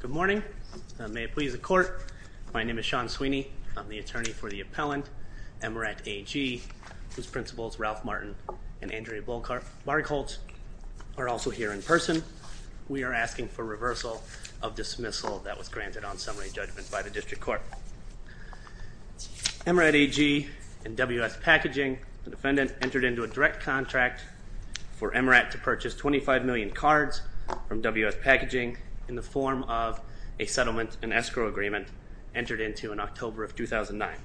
Good morning, and may it please the court, my name is Sean Sweeney. I'm the attorney for the appellant, Emerat AG, whose principals, Ralph Martin and Andrea Bargholtz, are also here in person. We are asking for reversal of dismissal that was granted on summary judgment by the District Court. Emerat AG and WS Packaging, the defendant, entered into a direct contract for Emerat to purchase 25 million cards from WS Packaging in the form of a settlement and escrow agreement entered into in October of 2009.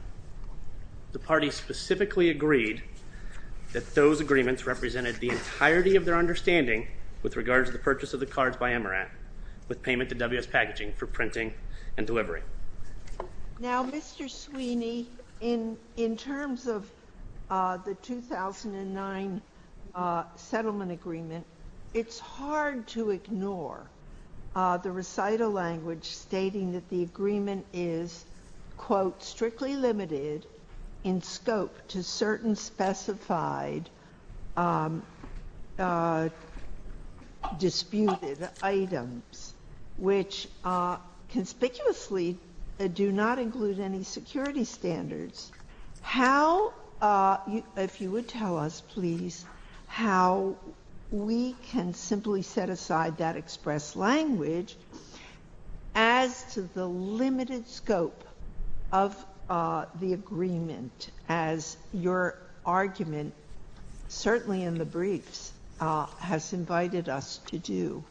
The party specifically agreed that those agreements represented the entirety of their understanding with regard to the purchase of the cards by Emerat with payment to WS Packaging for printing and delivery. Now, Mr. Sweeney, in terms of the 2009 settlement agreement, it's hard to ignore the recital language stating that the agreement is, quote, strictly limited in scope to certain specified disputed items, which conspicuously do not include any security standards. How, if you would tell us, please, how we can simply set aside that express language as to the limited scope of the agreement as your argument, certainly in the briefs, has invited us to do?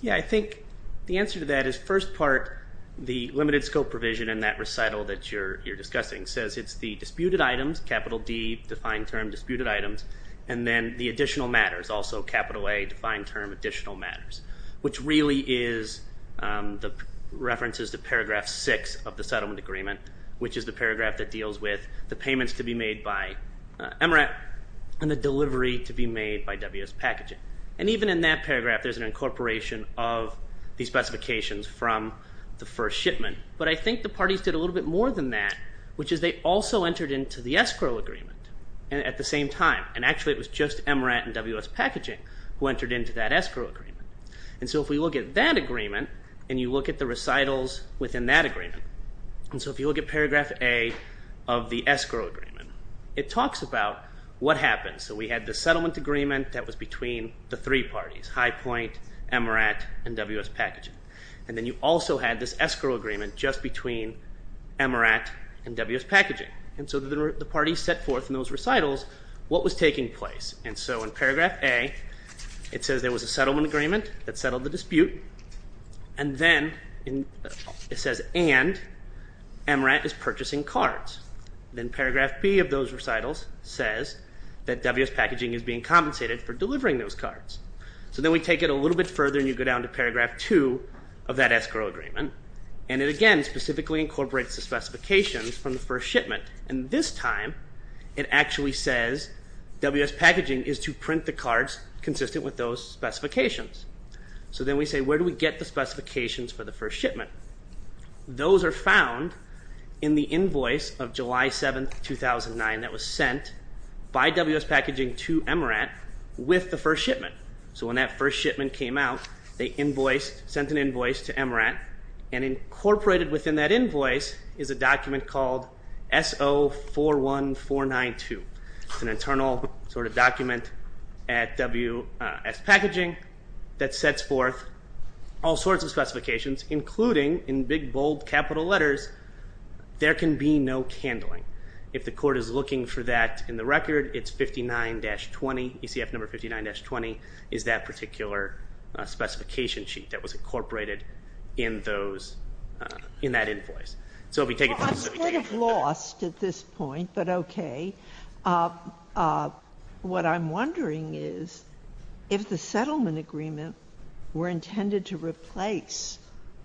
Yeah, I think the answer to that is, first part, the limited scope provision in that recital that you're discussing says it's the disputed items, capital D, defined term, disputed items, and then the additional matters, also capital A, defined term, additional matters, which really is the references to paragraph 6 of the settlement agreement, which is the paragraph that deals with the payments to be made by Emerat and the delivery to be made by WS Packaging. And even in that paragraph, there's an incorporation of the specifications from the first shipment, but I think the parties did a little bit more than that, which is they also entered into the escrow agreement at the same time, and actually it was just Emerat and WS Packaging who entered into that escrow agreement. And so if we look at that agreement, and you look at the recitals within that agreement, and so if you look at paragraph A of the escrow agreement, it talks about what happened. So we had the settlement agreement that was between the three parties, High Point, Emerat, and WS Packaging. And then you also had this escrow agreement just between Emerat and WS Packaging, and so the parties set forth in those recitals what was taking place. And so in paragraph A, it says there was a settlement agreement that settled the dispute, and then it says, and Emerat is purchasing cards. Then paragraph B of those recitals says that WS Packaging is being compensated for delivering those cards. So then we take it a little bit further, and you go down to paragraph 2 of that escrow agreement, and it again specifically incorporates the specifications from the first shipment, and this time it actually says WS Packaging is to print the cards consistent with those specifications. So then we say, where do we get the specifications for the first shipment? Those are found in the invoice of July 7, 2009 that was sent by WS Packaging to Emerat with the first shipment. So when that first shipment came out, they sent an invoice to Emerat, and incorporated within that invoice is a document called SO41492. It's an internal sort of document at WS Packaging that sets forth all sorts of specifications, including in big bold capital letters, there can be no candling. If the court is looking for that in the record, it's 59-20, ECF number 59-20 is that particular specification sheet that was incorporated in those, in that invoice. So we take it a little bit further. I'm sort of lost at this point, but okay. What I'm wondering is, if the settlement agreement were intended to replace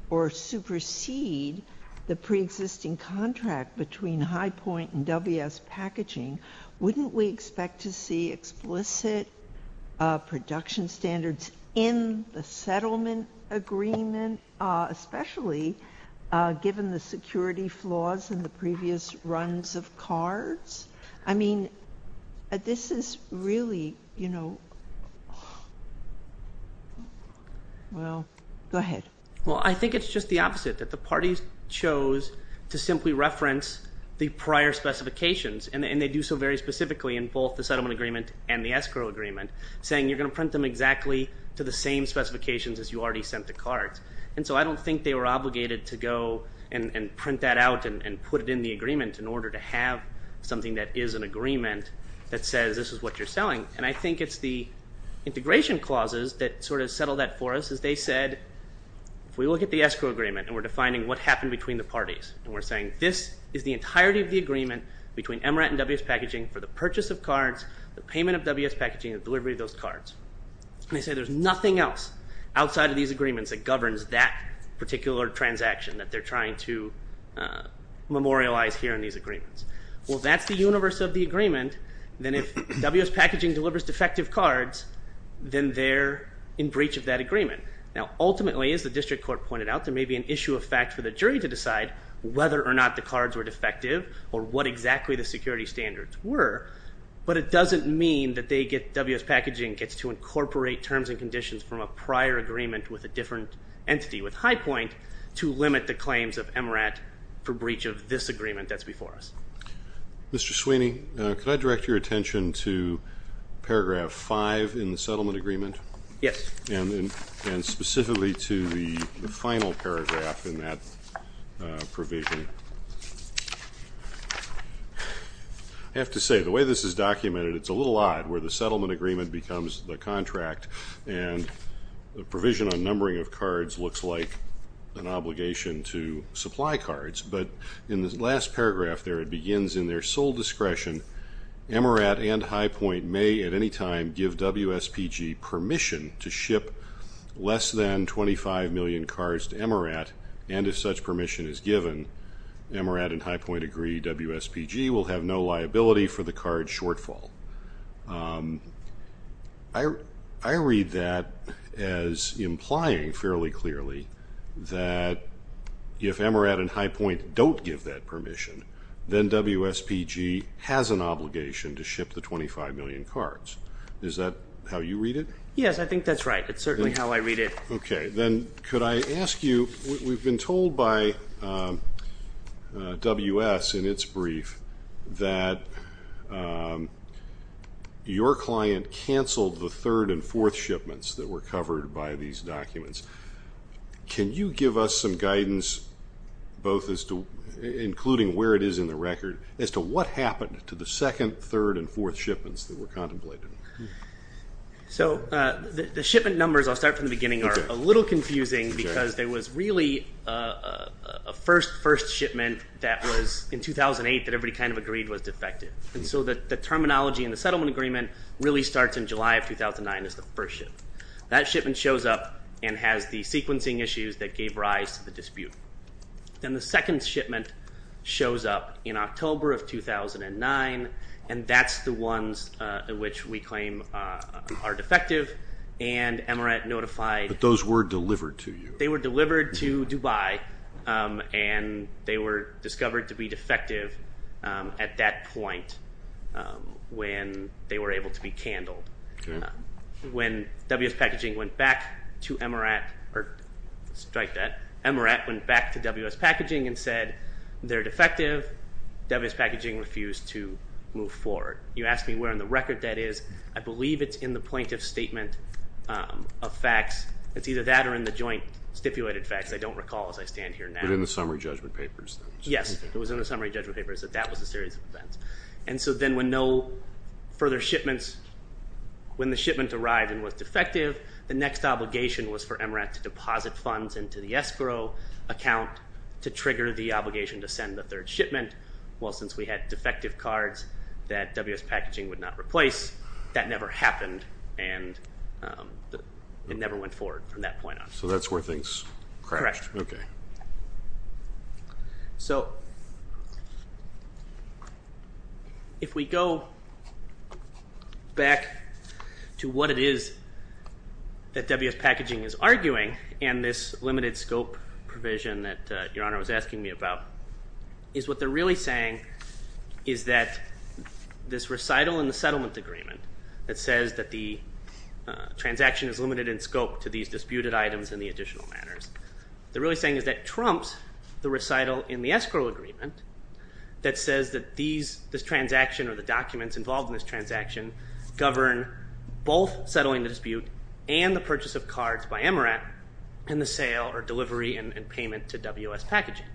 or supersede the preexisting contract between High Point and WS Packaging, wouldn't we expect to see explicit production standards in the settlement agreement, especially given the security flaws in the previous runs of cards? I mean, this is really, you know, well, go ahead. Well I think it's just the opposite, that the parties chose to simply reference the prior specifications, and they do so very specifically in both the settlement agreement and the escrow agreement, saying you're going to print them exactly to the same specifications as you already sent the cards. And so I don't think they were obligated to go and print that out and put it in the agreement in order to have something that is an agreement that says this is what you're selling. And I think it's the integration clauses that sort of settle that for us, as they said, if we look at the escrow agreement, and we're defining what happened between the parties, and we're saying this is the entirety of the agreement between MRAT and WS Packaging for the purchase of cards, the payment of WS Packaging, and the delivery of those cards. And they say there's nothing else outside of these agreements that governs that particular transaction that they're trying to memorialize here in these agreements. Well that's the universe of the agreement, then if WS Packaging delivers defective cards, then they're in breach of that agreement. Now ultimately, as the district court pointed out, there may be an issue of fact for the jury to decide whether or not the cards were defective, or what exactly the security standards were, but it doesn't mean that WS Packaging gets to incorporate terms and conditions from a prior agreement with a different entity, with High Point, to limit the claims of MRAT for breach of this agreement that's before us. Mr. Sweeney, could I direct your attention to paragraph 5 in the settlement agreement? Yes. And specifically to the final paragraph in that provision. I have to say, the way this is documented, it's a little odd, where the settlement agreement becomes the contract, and the provision on numbering of cards looks like an obligation to supply cards, but in this last paragraph there, it begins, in their sole discretion, MRAT and High Point may at any time give WSPG permission to ship less than 25 million cards to MRAT, and if such permission is given, MRAT and High Point agree WSPG will have no liability for the card shortfall. I read that as implying, fairly clearly, that if MRAT and High Point don't give that permission, then WSPG has an obligation to ship the 25 million cards. Is that how you read it? Yes, I think that's right. It's certainly how I read it. Okay. Then could I ask you, we've been told by WS in its brief that your client canceled the third and fourth shipments that were covered by these documents. Can you give us some guidance, including where it is in the record, as to what happened to the second, third, and fourth shipments that were contemplated? The shipment numbers, I'll start from the beginning, are a little confusing because there was really a first, first shipment that was in 2008 that everybody kind of agreed was defective, and so the terminology in the settlement agreement really starts in July of 2009 as the first shipment. That shipment shows up and has the sequencing issues that gave rise to the dispute. Then the second shipment shows up in October of 2009, and that's the ones in which we claim are defective, and MRAT notified- But those were delivered to you. They were delivered to Dubai, and they were discovered to be defective at that point when they were able to be candled. When WS Packaging went back to MRAT, or strike that, MRAT went back to WS Packaging and said they're defective, WS Packaging refused to move forward. You asked me where in the record that is. I believe it's in the plaintiff's statement of facts. It's either that or in the joint stipulated facts. I don't recall as I stand here now. But in the summary judgment papers, that was- Yes, it was in the summary judgment papers that that was a series of events. So then when no further shipments, when the shipment arrived and was defective, the next obligation was for MRAT to deposit funds into the escrow account to trigger the obligation to send the third shipment. Well since we had defective cards that WS Packaging would not replace, that never happened and it never went forward from that point on. So that's where things crashed, okay. So if we go back to what it is that WS Packaging is arguing and this limited scope provision that Your Honor was asking me about, is what they're really saying is that this recital and the settlement agreement that says that the transaction is limited in scope to these that trumps the recital in the escrow agreement that says that these, this transaction or the documents involved in this transaction govern both settling the dispute and the purchase of cards by MRAT and the sale or delivery and payment to WS Packaging.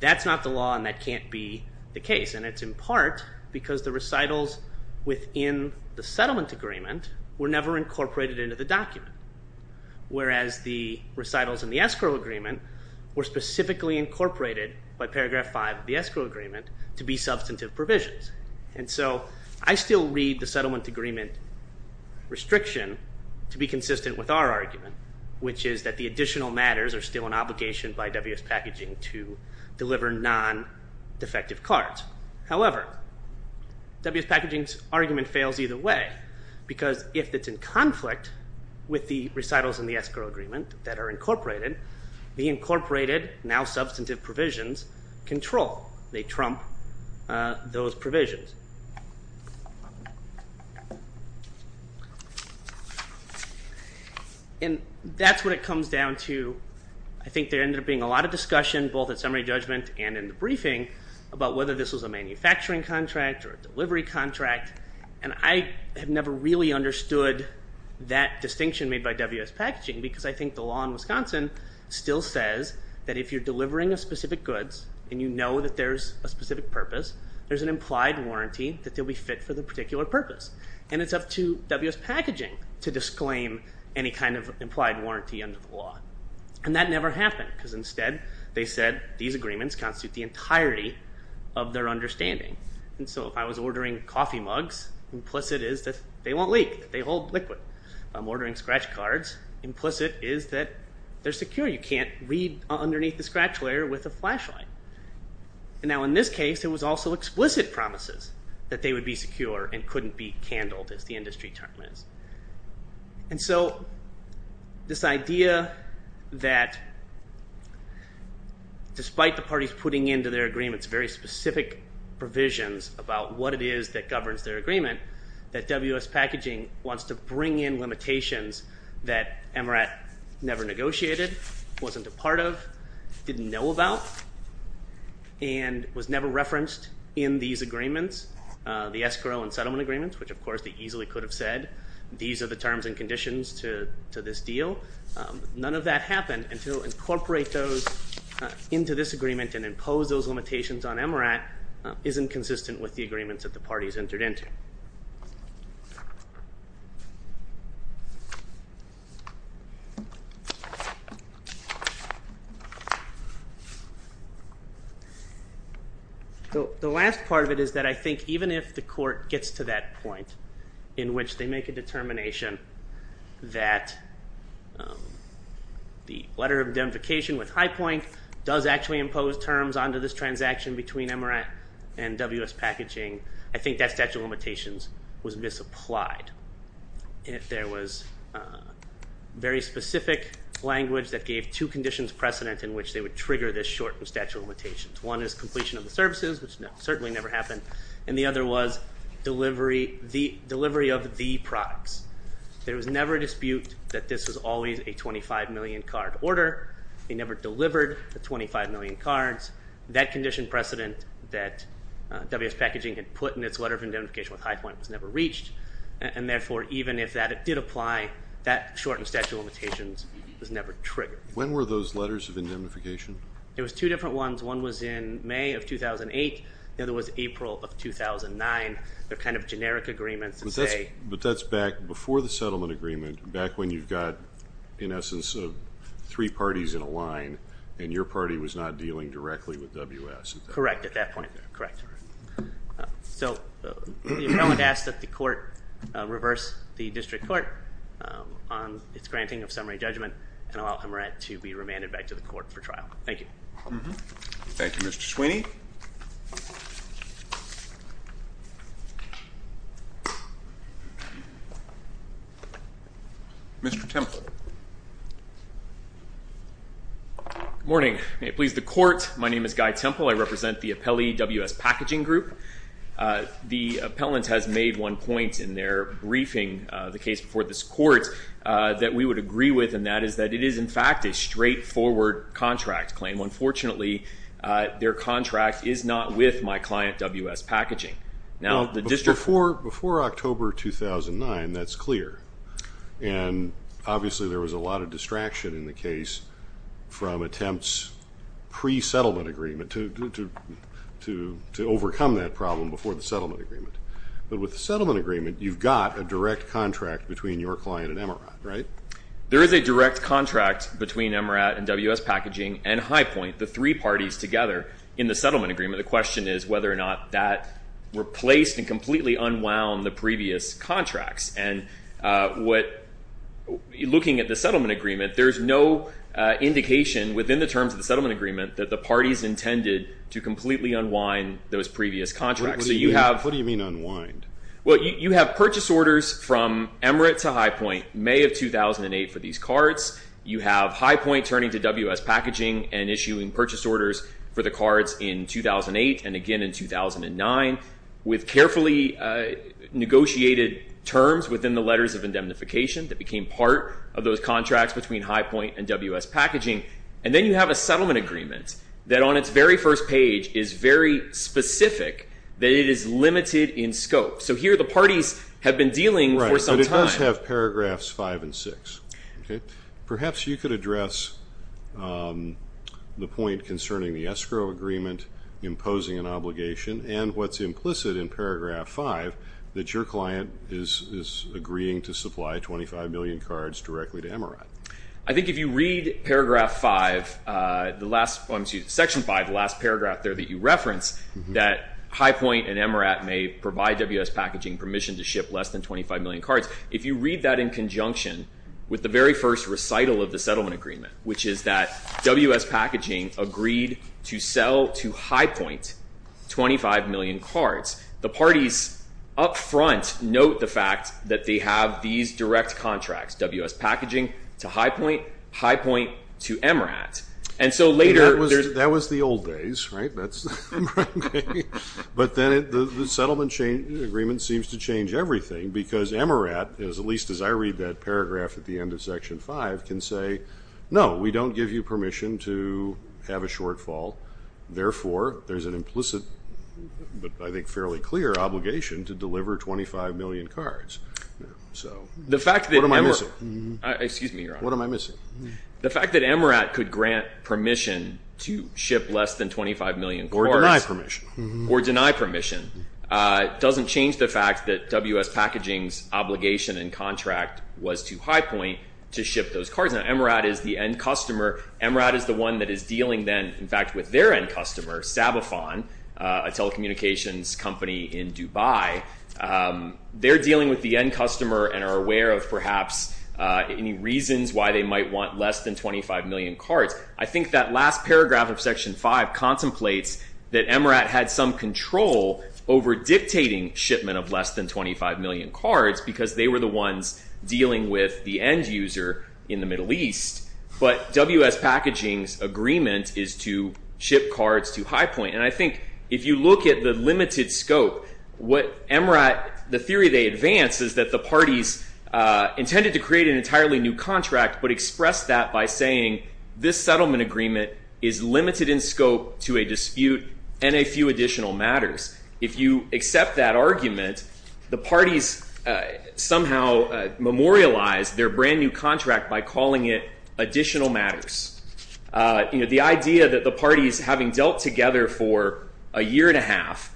That's not the law and that can't be the case and it's in part because the recitals within the settlement agreement were never incorporated into the document, whereas the recitals in the escrow agreement were specifically incorporated by paragraph 5 of the escrow agreement to be substantive provisions. And so I still read the settlement agreement restriction to be consistent with our argument, which is that the additional matters are still an obligation by WS Packaging to deliver non-defective cards. However, WS Packaging's argument fails either way because if it's in conflict with the recitals in the escrow agreement that are incorporated, the incorporated, now substantive, provisions control. They trump those provisions. And that's what it comes down to. I think there ended up being a lot of discussion, both at summary judgment and in the briefing, about whether this was a manufacturing contract or a delivery contract, and I have never really understood that distinction made by WS Packaging because I think the law in Wisconsin still says that if you're delivering a specific goods and you know that there's a specific purpose, there's an implied warranty that they'll be fit for the particular purpose. And it's up to WS Packaging to disclaim any kind of implied warranty under the law. And that never happened because instead they said these agreements constitute the entirety of their understanding. And so if I was ordering coffee mugs, implicit is that they won't leak, they hold liquid. If I'm ordering scratch cards, implicit is that they're secure, you can't read underneath the scratch layer with a flashlight. And now in this case it was also explicit promises that they would be secure and couldn't be candled, as the industry term is. And so this idea that despite the parties putting into their agreements very specific provisions about what it is that governs their agreement, that WS Packaging wants to bring in limitations that MRAT never negotiated, wasn't a part of, didn't know about, and was never referenced in these agreements, the escrow and settlement agreements, which of course they easily could have said these are the terms and conditions to this deal. None of that happened until incorporate those into this agreement and impose those limitations on MRAT, isn't consistent with the agreements that the parties entered into. The last part of it is that I think even if the court gets to that point in which they make a determination that the letter of indemnification with high point does actually impose terms on to this transaction between MRAT and WS Packaging, I think that statute of limitations was misapplied. And if there was very specific language that gave two conditions precedent in which they would trigger this shortened statute of limitations, one is completion of the services, which certainly never happened, and the other was delivery of the products. There was never a dispute that this was always a 25 million card order, they never delivered the 25 million cards. That condition precedent that WS Packaging had put in its letter of indemnification with high point was never reached, and therefore even if that did apply, that shortened statute of limitations was never triggered. When were those letters of indemnification? It was two different ones. One was in May of 2008, the other was April of 2009. They're kind of generic agreements that say... But that's back before the settlement agreement, back when you've got, in essence, three parties in a line, and your party was not dealing directly with WS at that point. Correct, at that point. Correct. So the appellant asks that the court reverse the district court on its granting of summary judgment and allow MRAT to be remanded back to the court for trial. Thank you. Thank you, Mr. Sweeney. Mr. Temple. Good morning. May it please the court, my name is Guy Temple. I represent the appellee WS Packaging group. The appellant has made one point in their briefing, the case before this court, that we would agree with, and that is that it is, in fact, a straightforward contract claim. Unfortunately, their contract is not with my client, WS Packaging. Now the district... Before October 2009, that's clear. And obviously, there was a lot of distraction in the case from attempts pre-settlement agreement to overcome that problem before the settlement agreement. But with the settlement agreement, you've got a direct contract between your client and MRAT, right? There is a direct contract between MRAT and WS Packaging and High Point, the three parties together in the settlement agreement. The question is whether or not that replaced and completely unwound the previous contracts. And looking at the settlement agreement, there's no indication within the terms of the settlement agreement that the parties intended to completely unwind those previous contracts. What do you mean unwind? You have purchase orders from MRAT to High Point, May of 2008 for these cards. You have High Point turning to WS Packaging and issuing purchase orders for the cards in 2008 and again in 2009. With carefully negotiated terms within the letters of indemnification that became part of those contracts between High Point and WS Packaging. And then you have a settlement agreement that on its very first page is very specific, that it is limited in scope. So here the parties have been dealing for some time. Right, but it does have paragraphs five and six, okay? Perhaps you could address the point concerning the escrow agreement imposing an obligation and what's implicit in paragraph five, that your client is agreeing to supply 25 million cards directly to MRAT. I think if you read paragraph five, the last section five, the last paragraph there that you referenced, that High Point and MRAT may provide WS Packaging permission to ship less than 25 million cards. If you read that in conjunction with the very first recital of the settlement agreement, which is that WS Packaging agreed to sell to High Point 25 million cards, the parties up front note the fact that they have these direct contracts, WS Packaging to High Point, High Point to MRAT. And so later... That was the old days, right? But then the settlement agreement seems to change everything because MRAT, at least as I read that paragraph at the end of section five, can say, no, we don't give you permission to have a shortfall, therefore there's an implicit, but I think fairly clear, obligation to deliver 25 million cards. So what am I missing? The fact that MRAT... Excuse me, Your Honor. What am I missing? The fact that MRAT could grant permission to ship less than 25 million cards... Or deny permission. Or deny permission. It doesn't change the fact that WS Packaging's obligation and contract was to High Point to ship those cards. Now, MRAT is the end customer. MRAT is the one that is dealing then, in fact, with their end customer, Sabafon, a telecommunications company in Dubai. They're dealing with the end customer and are aware of perhaps any reasons why they might want less than 25 million cards. I think that last paragraph of section five contemplates that MRAT had some control over dictating shipment of less than 25 million cards because they were the ones dealing with the end user in the Middle East. But WS Packaging's agreement is to ship cards to High Point. And I think if you look at the limited scope, what MRAT... The theory they advance is that the parties intended to create an entirely new contract, but expressed that by saying, this settlement agreement is limited in scope to a dispute and a few additional matters. If you accept that argument, the parties somehow memorialize their brand new contract by calling it additional matters. The idea that the parties, having dealt together for a year and a half,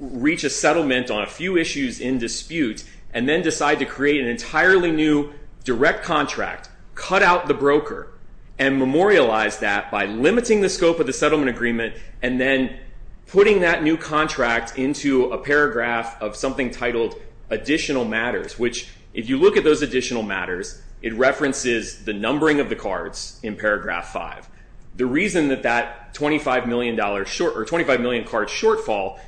reach a settlement on a few issues in dispute, and then decide to create an entirely new direct contract, cut out the broker, and memorialize that by limiting the scope of the settlement agreement, and then putting that new contract into a paragraph of something titled additional matters. Which if you look at those additional matters, it references the numbering of the cards in paragraph five. The reason that that $25 million card shortfall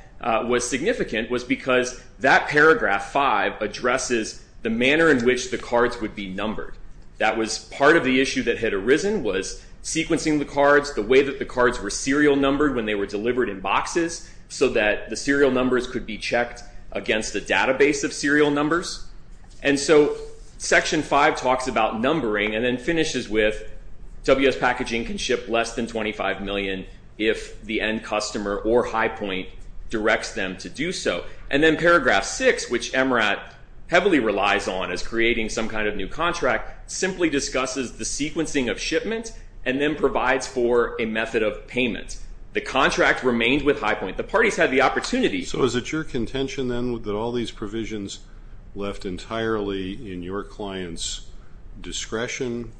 was significant was because that paragraph five addresses the manner in which the cards would be numbered. That was part of the issue that had arisen, was sequencing the cards, the way that the cards were serial numbered when they were delivered in boxes, so that the serial numbers could be checked against a database of serial numbers. And so section five talks about numbering and then finishes with WS Packaging can ship less than $25 million if the end customer or High Point directs them to do so. And then paragraph six, which MRAT heavily relies on as creating some kind of new contract, simply discusses the sequencing of shipment, and then provides for a method of payment. The contract remains with High Point. The parties had the opportunity. So is it your contention then that all these provisions left entirely in your client's discretion,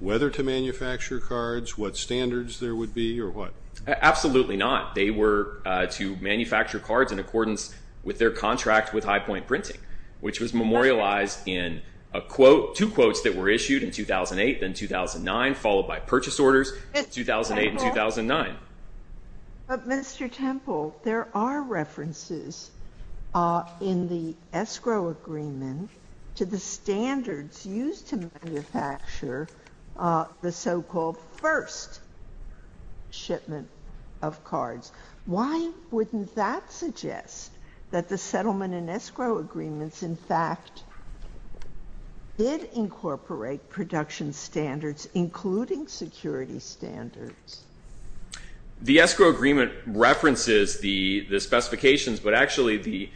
whether to manufacture cards, what standards there would be, or what? Absolutely not. They were to manufacture cards in accordance with their contract with High Point Printing, which was memorialized in a quote, two quotes that were issued in 2008 and 2009, followed by purchase orders in 2008 and 2009. But Mr. Temple, there are references in the escrow agreement to the standards used to manufacture the so-called first shipment of cards. Why wouldn't that suggest that the settlement and escrow agreements, in fact, did incorporate production standards, including security standards? The escrow agreement references the specifications, but actually the,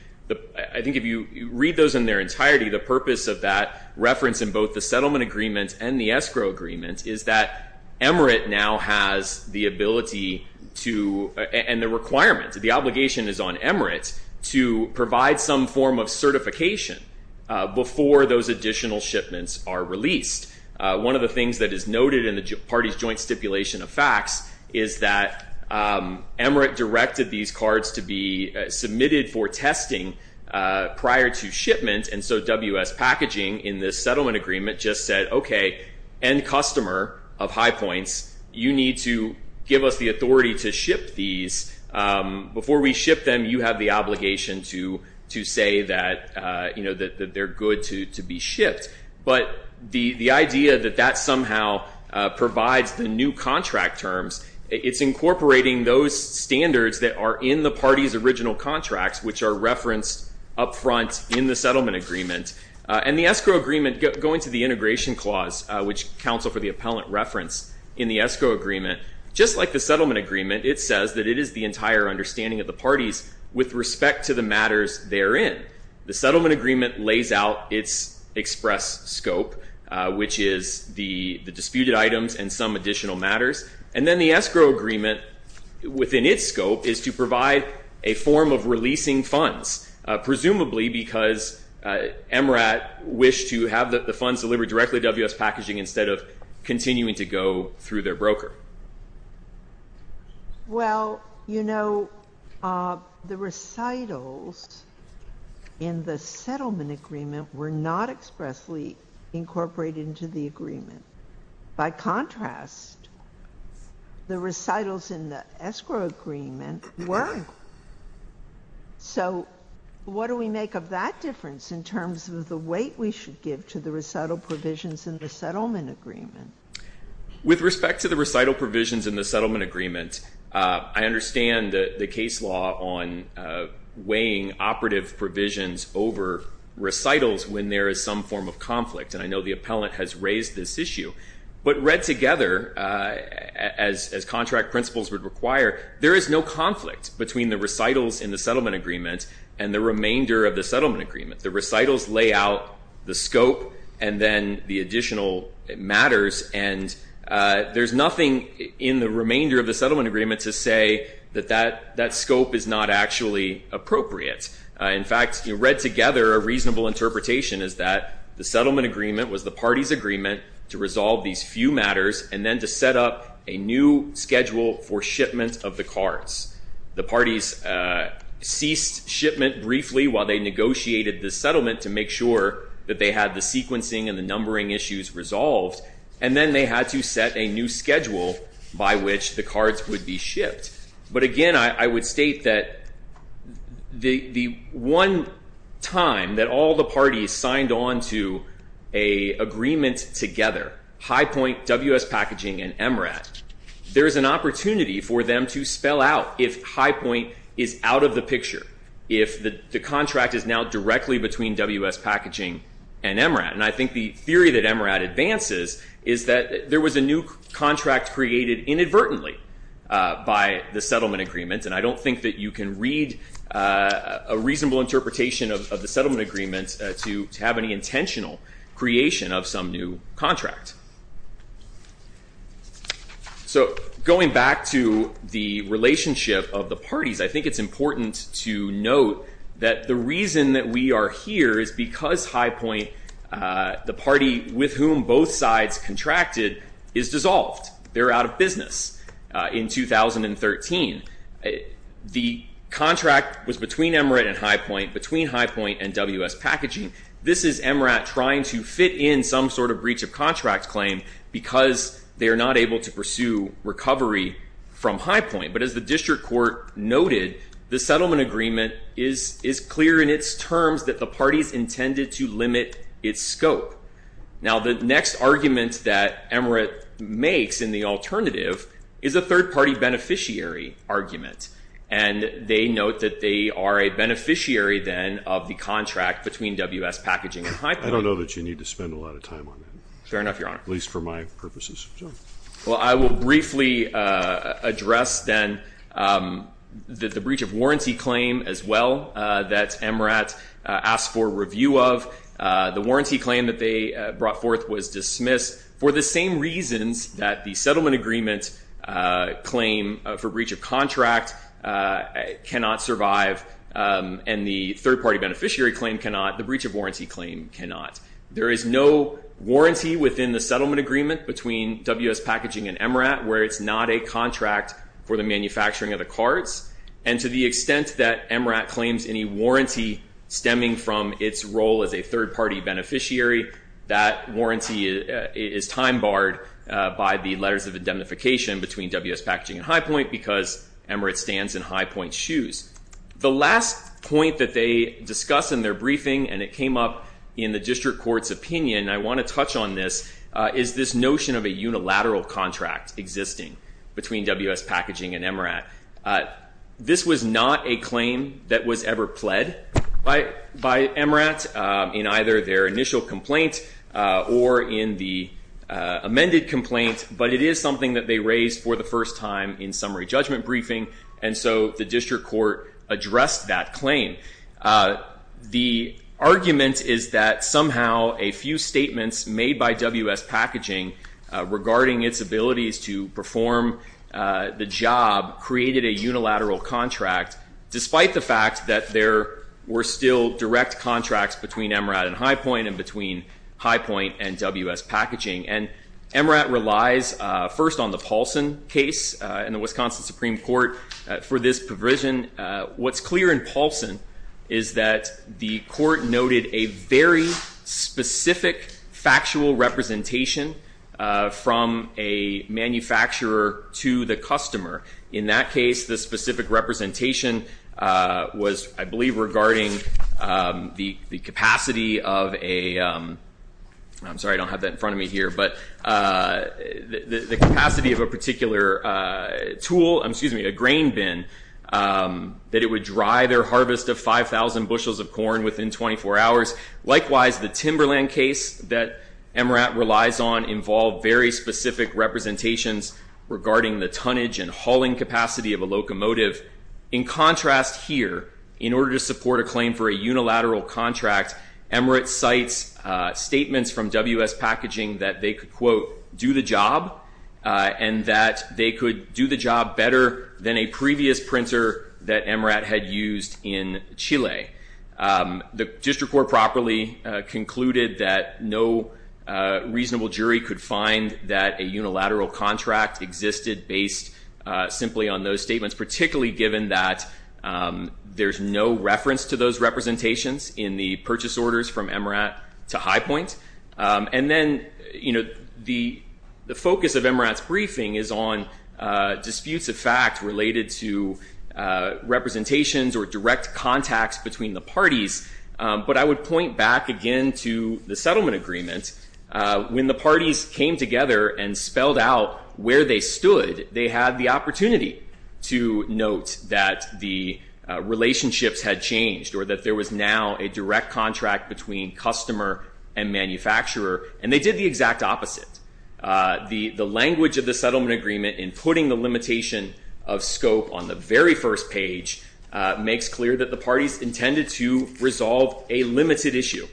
I think if you read those in their entirety, the purpose of that reference in both the settlement agreement and the escrow agreement is that MRAT now has the ability to, and the requirement, the obligation is on MRAT to provide some form of certification before those additional shipments are released. One of the things that is noted in the party's joint stipulation of facts is that MRAT directed these cards to be submitted for testing prior to shipment, and so WS Packaging in this settlement agreement just said, okay, end customer of High Points, you need to give us the authority to ship these. Before we ship them, you have the obligation to say that they're good to be shipped. But the idea that that somehow provides the new contract terms, it's incorporating those standards that are in the party's original contracts, which are referenced up front in the settlement agreement. And the escrow agreement, going to the integration clause, which counsel for the appellant referenced in the escrow agreement, just like the settlement agreement, it says that it is the entire understanding of the parties with respect to the matters therein. The settlement agreement lays out its express scope, which is the disputed items and some additional matters. And then the escrow agreement within its scope is to provide a form of releasing funds, presumably because MRAT wished to have the funds delivered directly to WS Packaging instead of continuing to go through their broker. Well, you know, the recitals in the settlement agreement were not expressly incorporated into the agreement. By contrast, the recitals in the escrow agreement were. So what do we make of that difference in terms of the weight we should give to the recital provisions in the settlement agreement? With respect to the recital provisions in the settlement agreement, I understand the case law on weighing operative provisions over recitals when there is some form of conflict. And I know the appellant has raised this issue. But read together, as contract principles would require, there is no conflict between the recitals in the settlement agreement and the remainder of the settlement agreement. The recitals lay out the scope and then the additional matters, and there's nothing in the remainder of the settlement agreement to say that that scope is not actually appropriate. In fact, read together, a reasonable interpretation is that the settlement agreement was the party's agreement to resolve these few matters and then to set up a new schedule for shipment of the cards. The parties ceased shipment briefly while they negotiated the settlement to make sure that they had the sequencing and the numbering issues resolved, and then they had to set a new schedule by which the cards would be shipped. But again, I would state that the one time that all the parties signed on to an agreement together, High Point, WS Packaging, and MRAT, there is an opportunity for them to spell out if High Point is out of the picture, if the contract is now directly between WS Packaging and MRAT. And I think the theory that MRAT advances is that there was a new contract created inadvertently by the settlement agreement, and I don't think that you can read a reasonable interpretation of the settlement agreement to have any intentional creation of some new contract. So going back to the relationship of the parties, I think it's important to note that the reason that we are here is because High Point, the party with whom both sides contracted, is dissolved. They're out of business in 2013. The contract was between MRAT and High Point, between High Point and WS Packaging. This is MRAT trying to fit in some sort of breach of contract claim because they are not able to pursue recovery from High Point. But as the district court noted, the settlement agreement is clear in its terms that the parties intended to limit its scope. Now, the next argument that MRAT makes in the alternative is a third-party beneficiary argument, and they note that they are a beneficiary, then, of the contract between WS Packaging and High Point. I don't know that you need to spend a lot of time on that. Fair enough, Your Honor. At least for my purposes. Sure. Well, I will briefly address, then, the breach of warranty claim as well that MRAT asked for review of. The warranty claim that they brought forth was dismissed for the same reasons that the settlement agreement claim for breach of contract cannot survive, and the third-party beneficiary claim cannot, the breach of warranty claim cannot. There is no warranty within the settlement agreement between WS Packaging and MRAT where it's not a contract for the manufacturing of the cards, and to the extent that MRAT claims any warranty stemming from its role as a third-party beneficiary, that warranty is time-barred by the letters of indemnification between WS Packaging and High Point because MRAT stands in High Point's shoes. The last point that they discuss in their briefing, and it came up in the district court's opinion, and I want to touch on this, is this notion of a unilateral contract existing between WS Packaging and MRAT. This was not a claim that was ever pled by MRAT in either their initial complaint or in the amended complaint, but it is something that they raised for the first time in summary judgment briefing, and so the district court addressed that claim. The argument is that somehow a few statements made by WS Packaging regarding its abilities to perform the job created a unilateral contract, despite the fact that there were still direct contracts between MRAT and High Point and between High Point and WS Packaging. And MRAT relies first on the Paulson case in the Wisconsin Supreme Court for this provision. What's clear in Paulson is that the court noted a very specific factual representation from a manufacturer to the customer. In that case, the specific representation was, I believe, regarding the capacity of a—I'm sorry, I don't have that in front of me here—but the capacity of a particular tool, excuse me, a grain bin, that it would dry their harvest of 5,000 bushels of corn within 24 hours. Likewise, the Timberland case that MRAT relies on involved very specific representations regarding the tonnage and hauling capacity of a locomotive. In contrast here, in order to support a claim for a unilateral contract, MRAT cites statements from WS Packaging that they could, quote, do the job, and that they could do the job better than a previous printer that MRAT had used in Chile. The district court properly concluded that no reasonable jury could find that a unilateral contract existed based simply on those statements, particularly given that there's no reference to those representations in the purchase orders from MRAT to High Point. And then, you know, the focus of MRAT's briefing is on disputes of fact related to direct contacts between the parties, but I would point back again to the settlement agreement. When the parties came together and spelled out where they stood, they had the opportunity to note that the relationships had changed or that there was now a direct contract between customer and manufacturer, and they did the exact opposite. The language of the settlement agreement in putting the limitation of scope on the very first page makes clear that the parties intended to resolve a limited issue.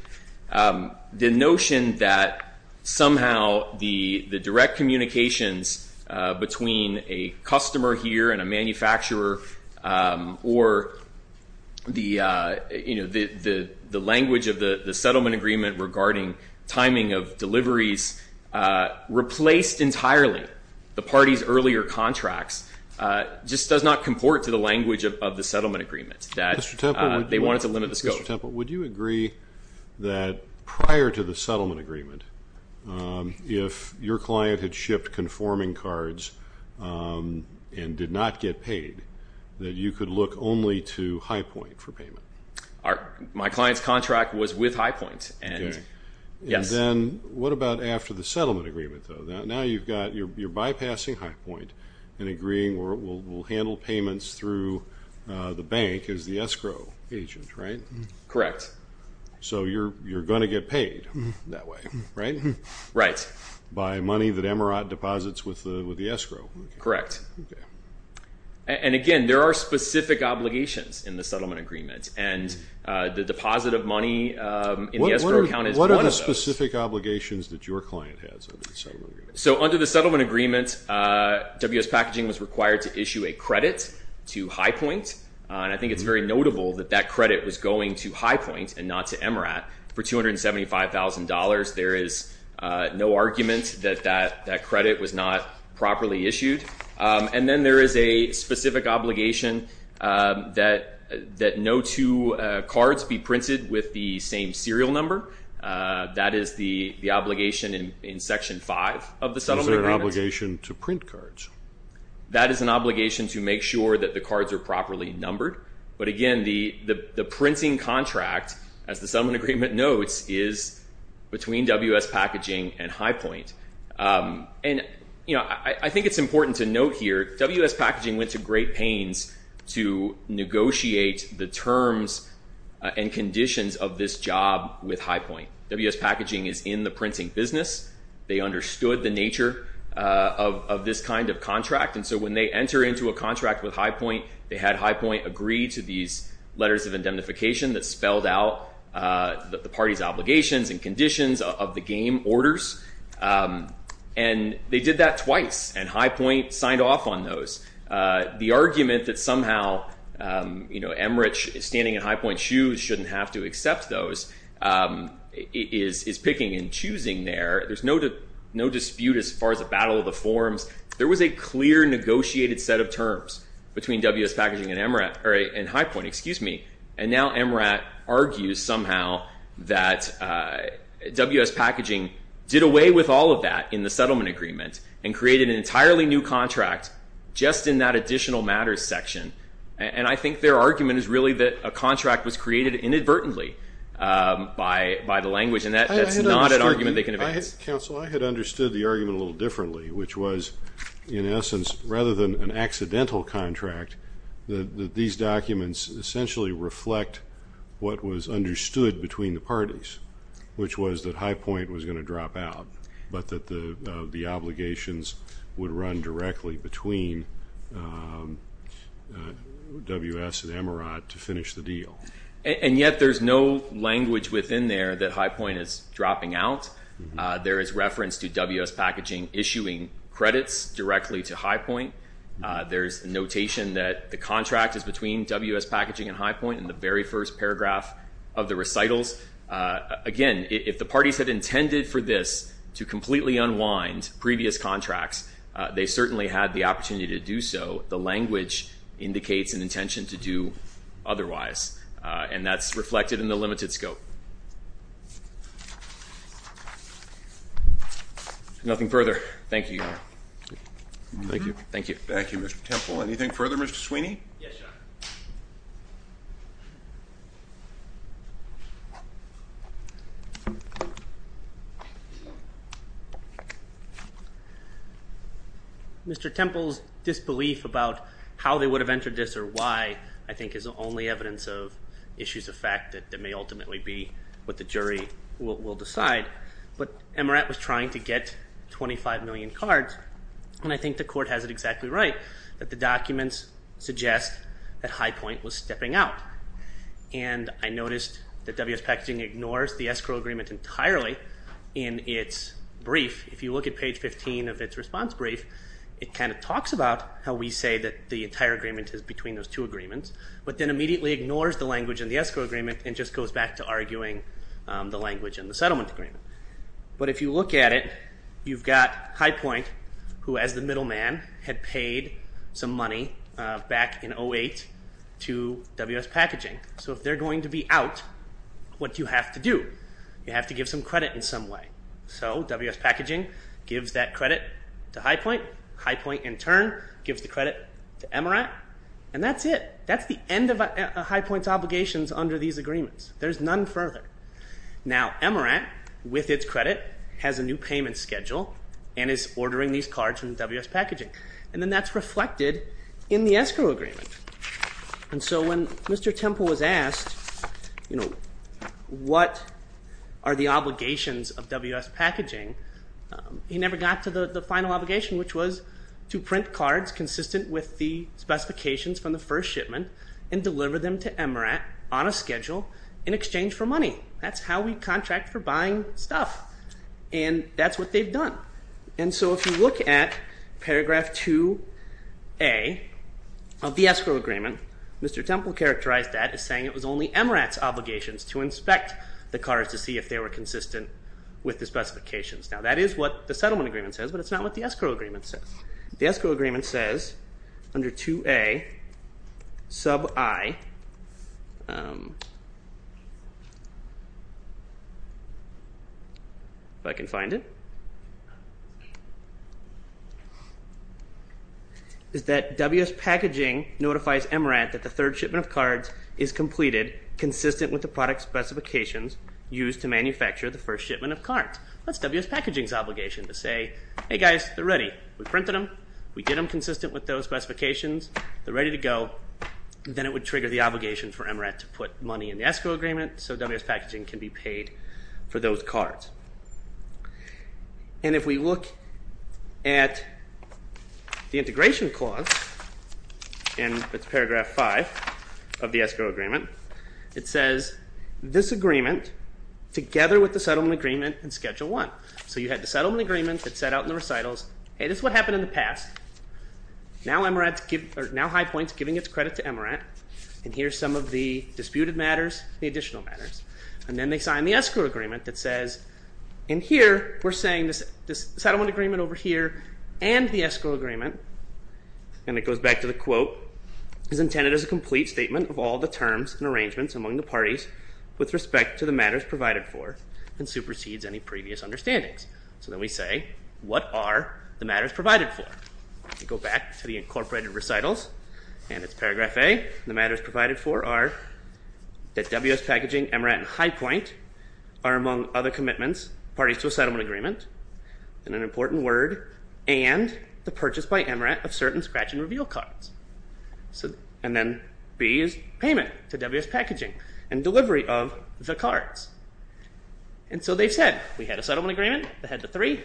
The notion that somehow the direct communications between a customer here and a manufacturer or the, you know, the language of the settlement agreement regarding timing of deliveries replaced entirely the parties' earlier contracts just does not comport to the language of the settlement agreement that they wanted to limit the scope. Mr. Temple, would you agree that prior to the settlement agreement, if your client had shipped conforming cards and did not get paid, that you could look only to High Point for payment? My client's contract was with High Point, and yes. And then what about after the settlement agreement, though? Now you've got, you're bypassing High Point and agreeing we'll handle payments through the bank as the escrow agent, right? Correct. So you're going to get paid that way, right? Right. By money that Emeraught deposits with the escrow. Correct. Okay. And again, there are specific obligations in the settlement agreement, and the deposit of money in the escrow account is one of those. What are the specific obligations that your client has under the settlement agreement? So under the settlement agreement, WS Packaging was required to issue a credit to High Point, and I think it's very notable that that credit was going to High Point and not to Emeraught for $275,000. There is no argument that that credit was not properly issued. And then there is a specific obligation that no two cards be printed with the same serial number. That is the obligation in Section 5 of the settlement agreement. Is there an obligation to print cards? That is an obligation to make sure that the cards are properly numbered. But again, the printing contract, as the settlement agreement notes, is between WS Packaging and High Point. And I think it's important to note here, WS Packaging went to great pains to negotiate the terms and conditions of this job with High Point. WS Packaging is in the printing business. They understood the nature of this kind of contract, and so when they enter into a contract with High Point, they had High Point agree to these letters of indemnification that spelled out the party's obligations and conditions of the game orders. And they did that twice, and High Point signed off on those. The argument that somehow, you know, Emmerich standing in High Point's shoes shouldn't have to accept those is picking and choosing there. There's no dispute as far as the battle of the forms. There was a clear negotiated set of terms between WS Packaging and High Point. And now Emmerich argues somehow that WS Packaging did away with all of that in the settlement agreement and created an entirely new contract just in that additional matters section. And I think their argument is really that a contract was created inadvertently by the language, and that's not an argument they can evade. Counsel, I had understood the argument a little differently, which was, in essence, rather than an accidental contract, that these documents essentially reflect what was understood between the parties, which was that High Point was going to drop out, but that the obligations would run directly between WS and Emmerich to finish the deal. And yet there's no language within there that High Point is dropping out. There is reference to WS Packaging issuing credits directly to High Point. There's notation that the contract is between WS Packaging and High Point in the very first paragraph of the recitals. Again, if the parties had intended for this to completely unwind previous contracts, they certainly had the opportunity to do so. The language indicates an intention to do otherwise. And that's reflected in the limited scope. Nothing further. Thank you. Thank you. Thank you. Thank you, Mr. Temple. Anything further, Mr. Sweeney? Yes, Your Honor. Mr. Temple's disbelief about how they would have entered this or why, I think, is the only evidence of issues of fact that may ultimately be what the jury will decide. But Emmerich was trying to get 25 million cards, and I think the Court has it exactly right that the documents suggest that High Point was stepping out. And I noticed that WS Packaging ignores the escrow agreement entirely in its brief. If you look at page 15 of its response brief, it kind of talks about how we say that the entire agreement is between those two agreements, but then immediately ignores the language in the escrow agreement and just goes back to arguing the language in the settlement agreement. But if you look at it, you've got High Point, who, as the middleman, had paid some money back in 08 to WS Packaging. So if they're going to be out, what do you have to do? You have to give some credit in some way. So WS Packaging gives that credit to High Point. High Point, in turn, gives the credit to Emmerich. And that's it. That's the end of High Point's obligations under these agreements. There's none further. Now, Emmerich, with its credit, has a new payment schedule and is ordering these cards from WS Packaging. And then that's reflected in the escrow agreement. And so when Mr. Temple was asked, you know, what are the obligations of WS Packaging, he never got to the final obligation, which was to print cards consistent with the specifications from the first shipment and deliver them to Emmerich on a schedule in exchange for money. That's how we contract for buying stuff. And that's what they've done. And so if you look at paragraph 2A of the escrow agreement, Mr. Temple characterized that as saying it was only Emmerich's obligations to inspect the cards to see if they were consistent with the specifications. Now, that is what the settlement agreement says, but it's not what the escrow agreement says. The escrow agreement says under 2A sub I, if I can find it, is that WS Packaging notifies Emmerich that the third shipment of cards is completed consistent with the product specifications used to manufacture the first shipment of cards. That's WS Packaging's obligation to say, hey guys, they're ready. We printed them, we did them consistent with those specifications, they're ready to go. Then it would trigger the obligation for Emmerich to put money in the escrow agreement so WS Packaging can be paid for those cards. And if we look at the integration clause in paragraph 5 of the escrow agreement, it says this agreement together with the settlement agreement and schedule 1. So you had the settlement agreement that's set out in the recitals, hey, this is what happened in the past, now High Point's giving its credit to Emmerich, and here's some of the disputed matters, the additional matters. And then they sign the escrow agreement that says, and here we're saying this settlement agreement over here and the escrow agreement, and it goes back to the quote, is intended as a complete statement of all the terms and arrangements among the parties with respect to the matters provided for and supersedes any previous understandings. So then we say, what are the matters provided for? Go back to the incorporated recitals, and it's paragraph A, the matters provided for are that WS Packaging, Emmerich, and High Point are among other commitments, parties to a settlement agreement, and an important word, and the purchase by Emmerich of certain scratch and reveal cards. And then B is payment to WS Packaging and delivery of the cards. And so they've said, we had a settlement agreement, they had the three,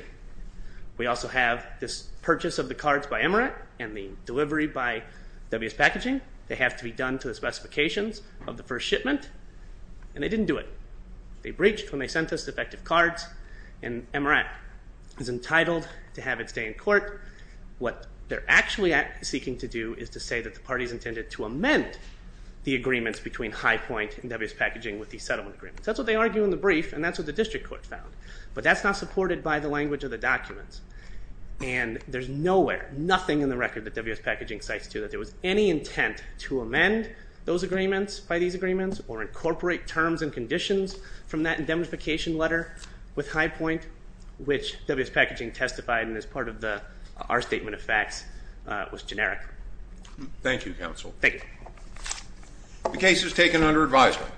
we also have this purchase of the cards by Emmerich and the delivery by WS Packaging, they have to be done to the specifications of the first shipment, and they didn't do it. They breached when they sent us defective cards, and Emmerich is entitled to have it stay in court. What they're actually seeking to do is to say that the parties intended to amend the agreements between High Point and WS Packaging with the settlement agreement. So that's what they argue in the brief, and that's what the district court found. But that's not supported by the language of the documents. And there's nowhere, nothing in the record that WS Packaging cites to that there was any intent to amend those agreements by these agreements or incorporate terms and conditions from that indemnification letter with High Point, which WS Packaging testified and is part of the, our statement of facts was generic. Thank you, Counsel. Thank you. The case is taken under advisement.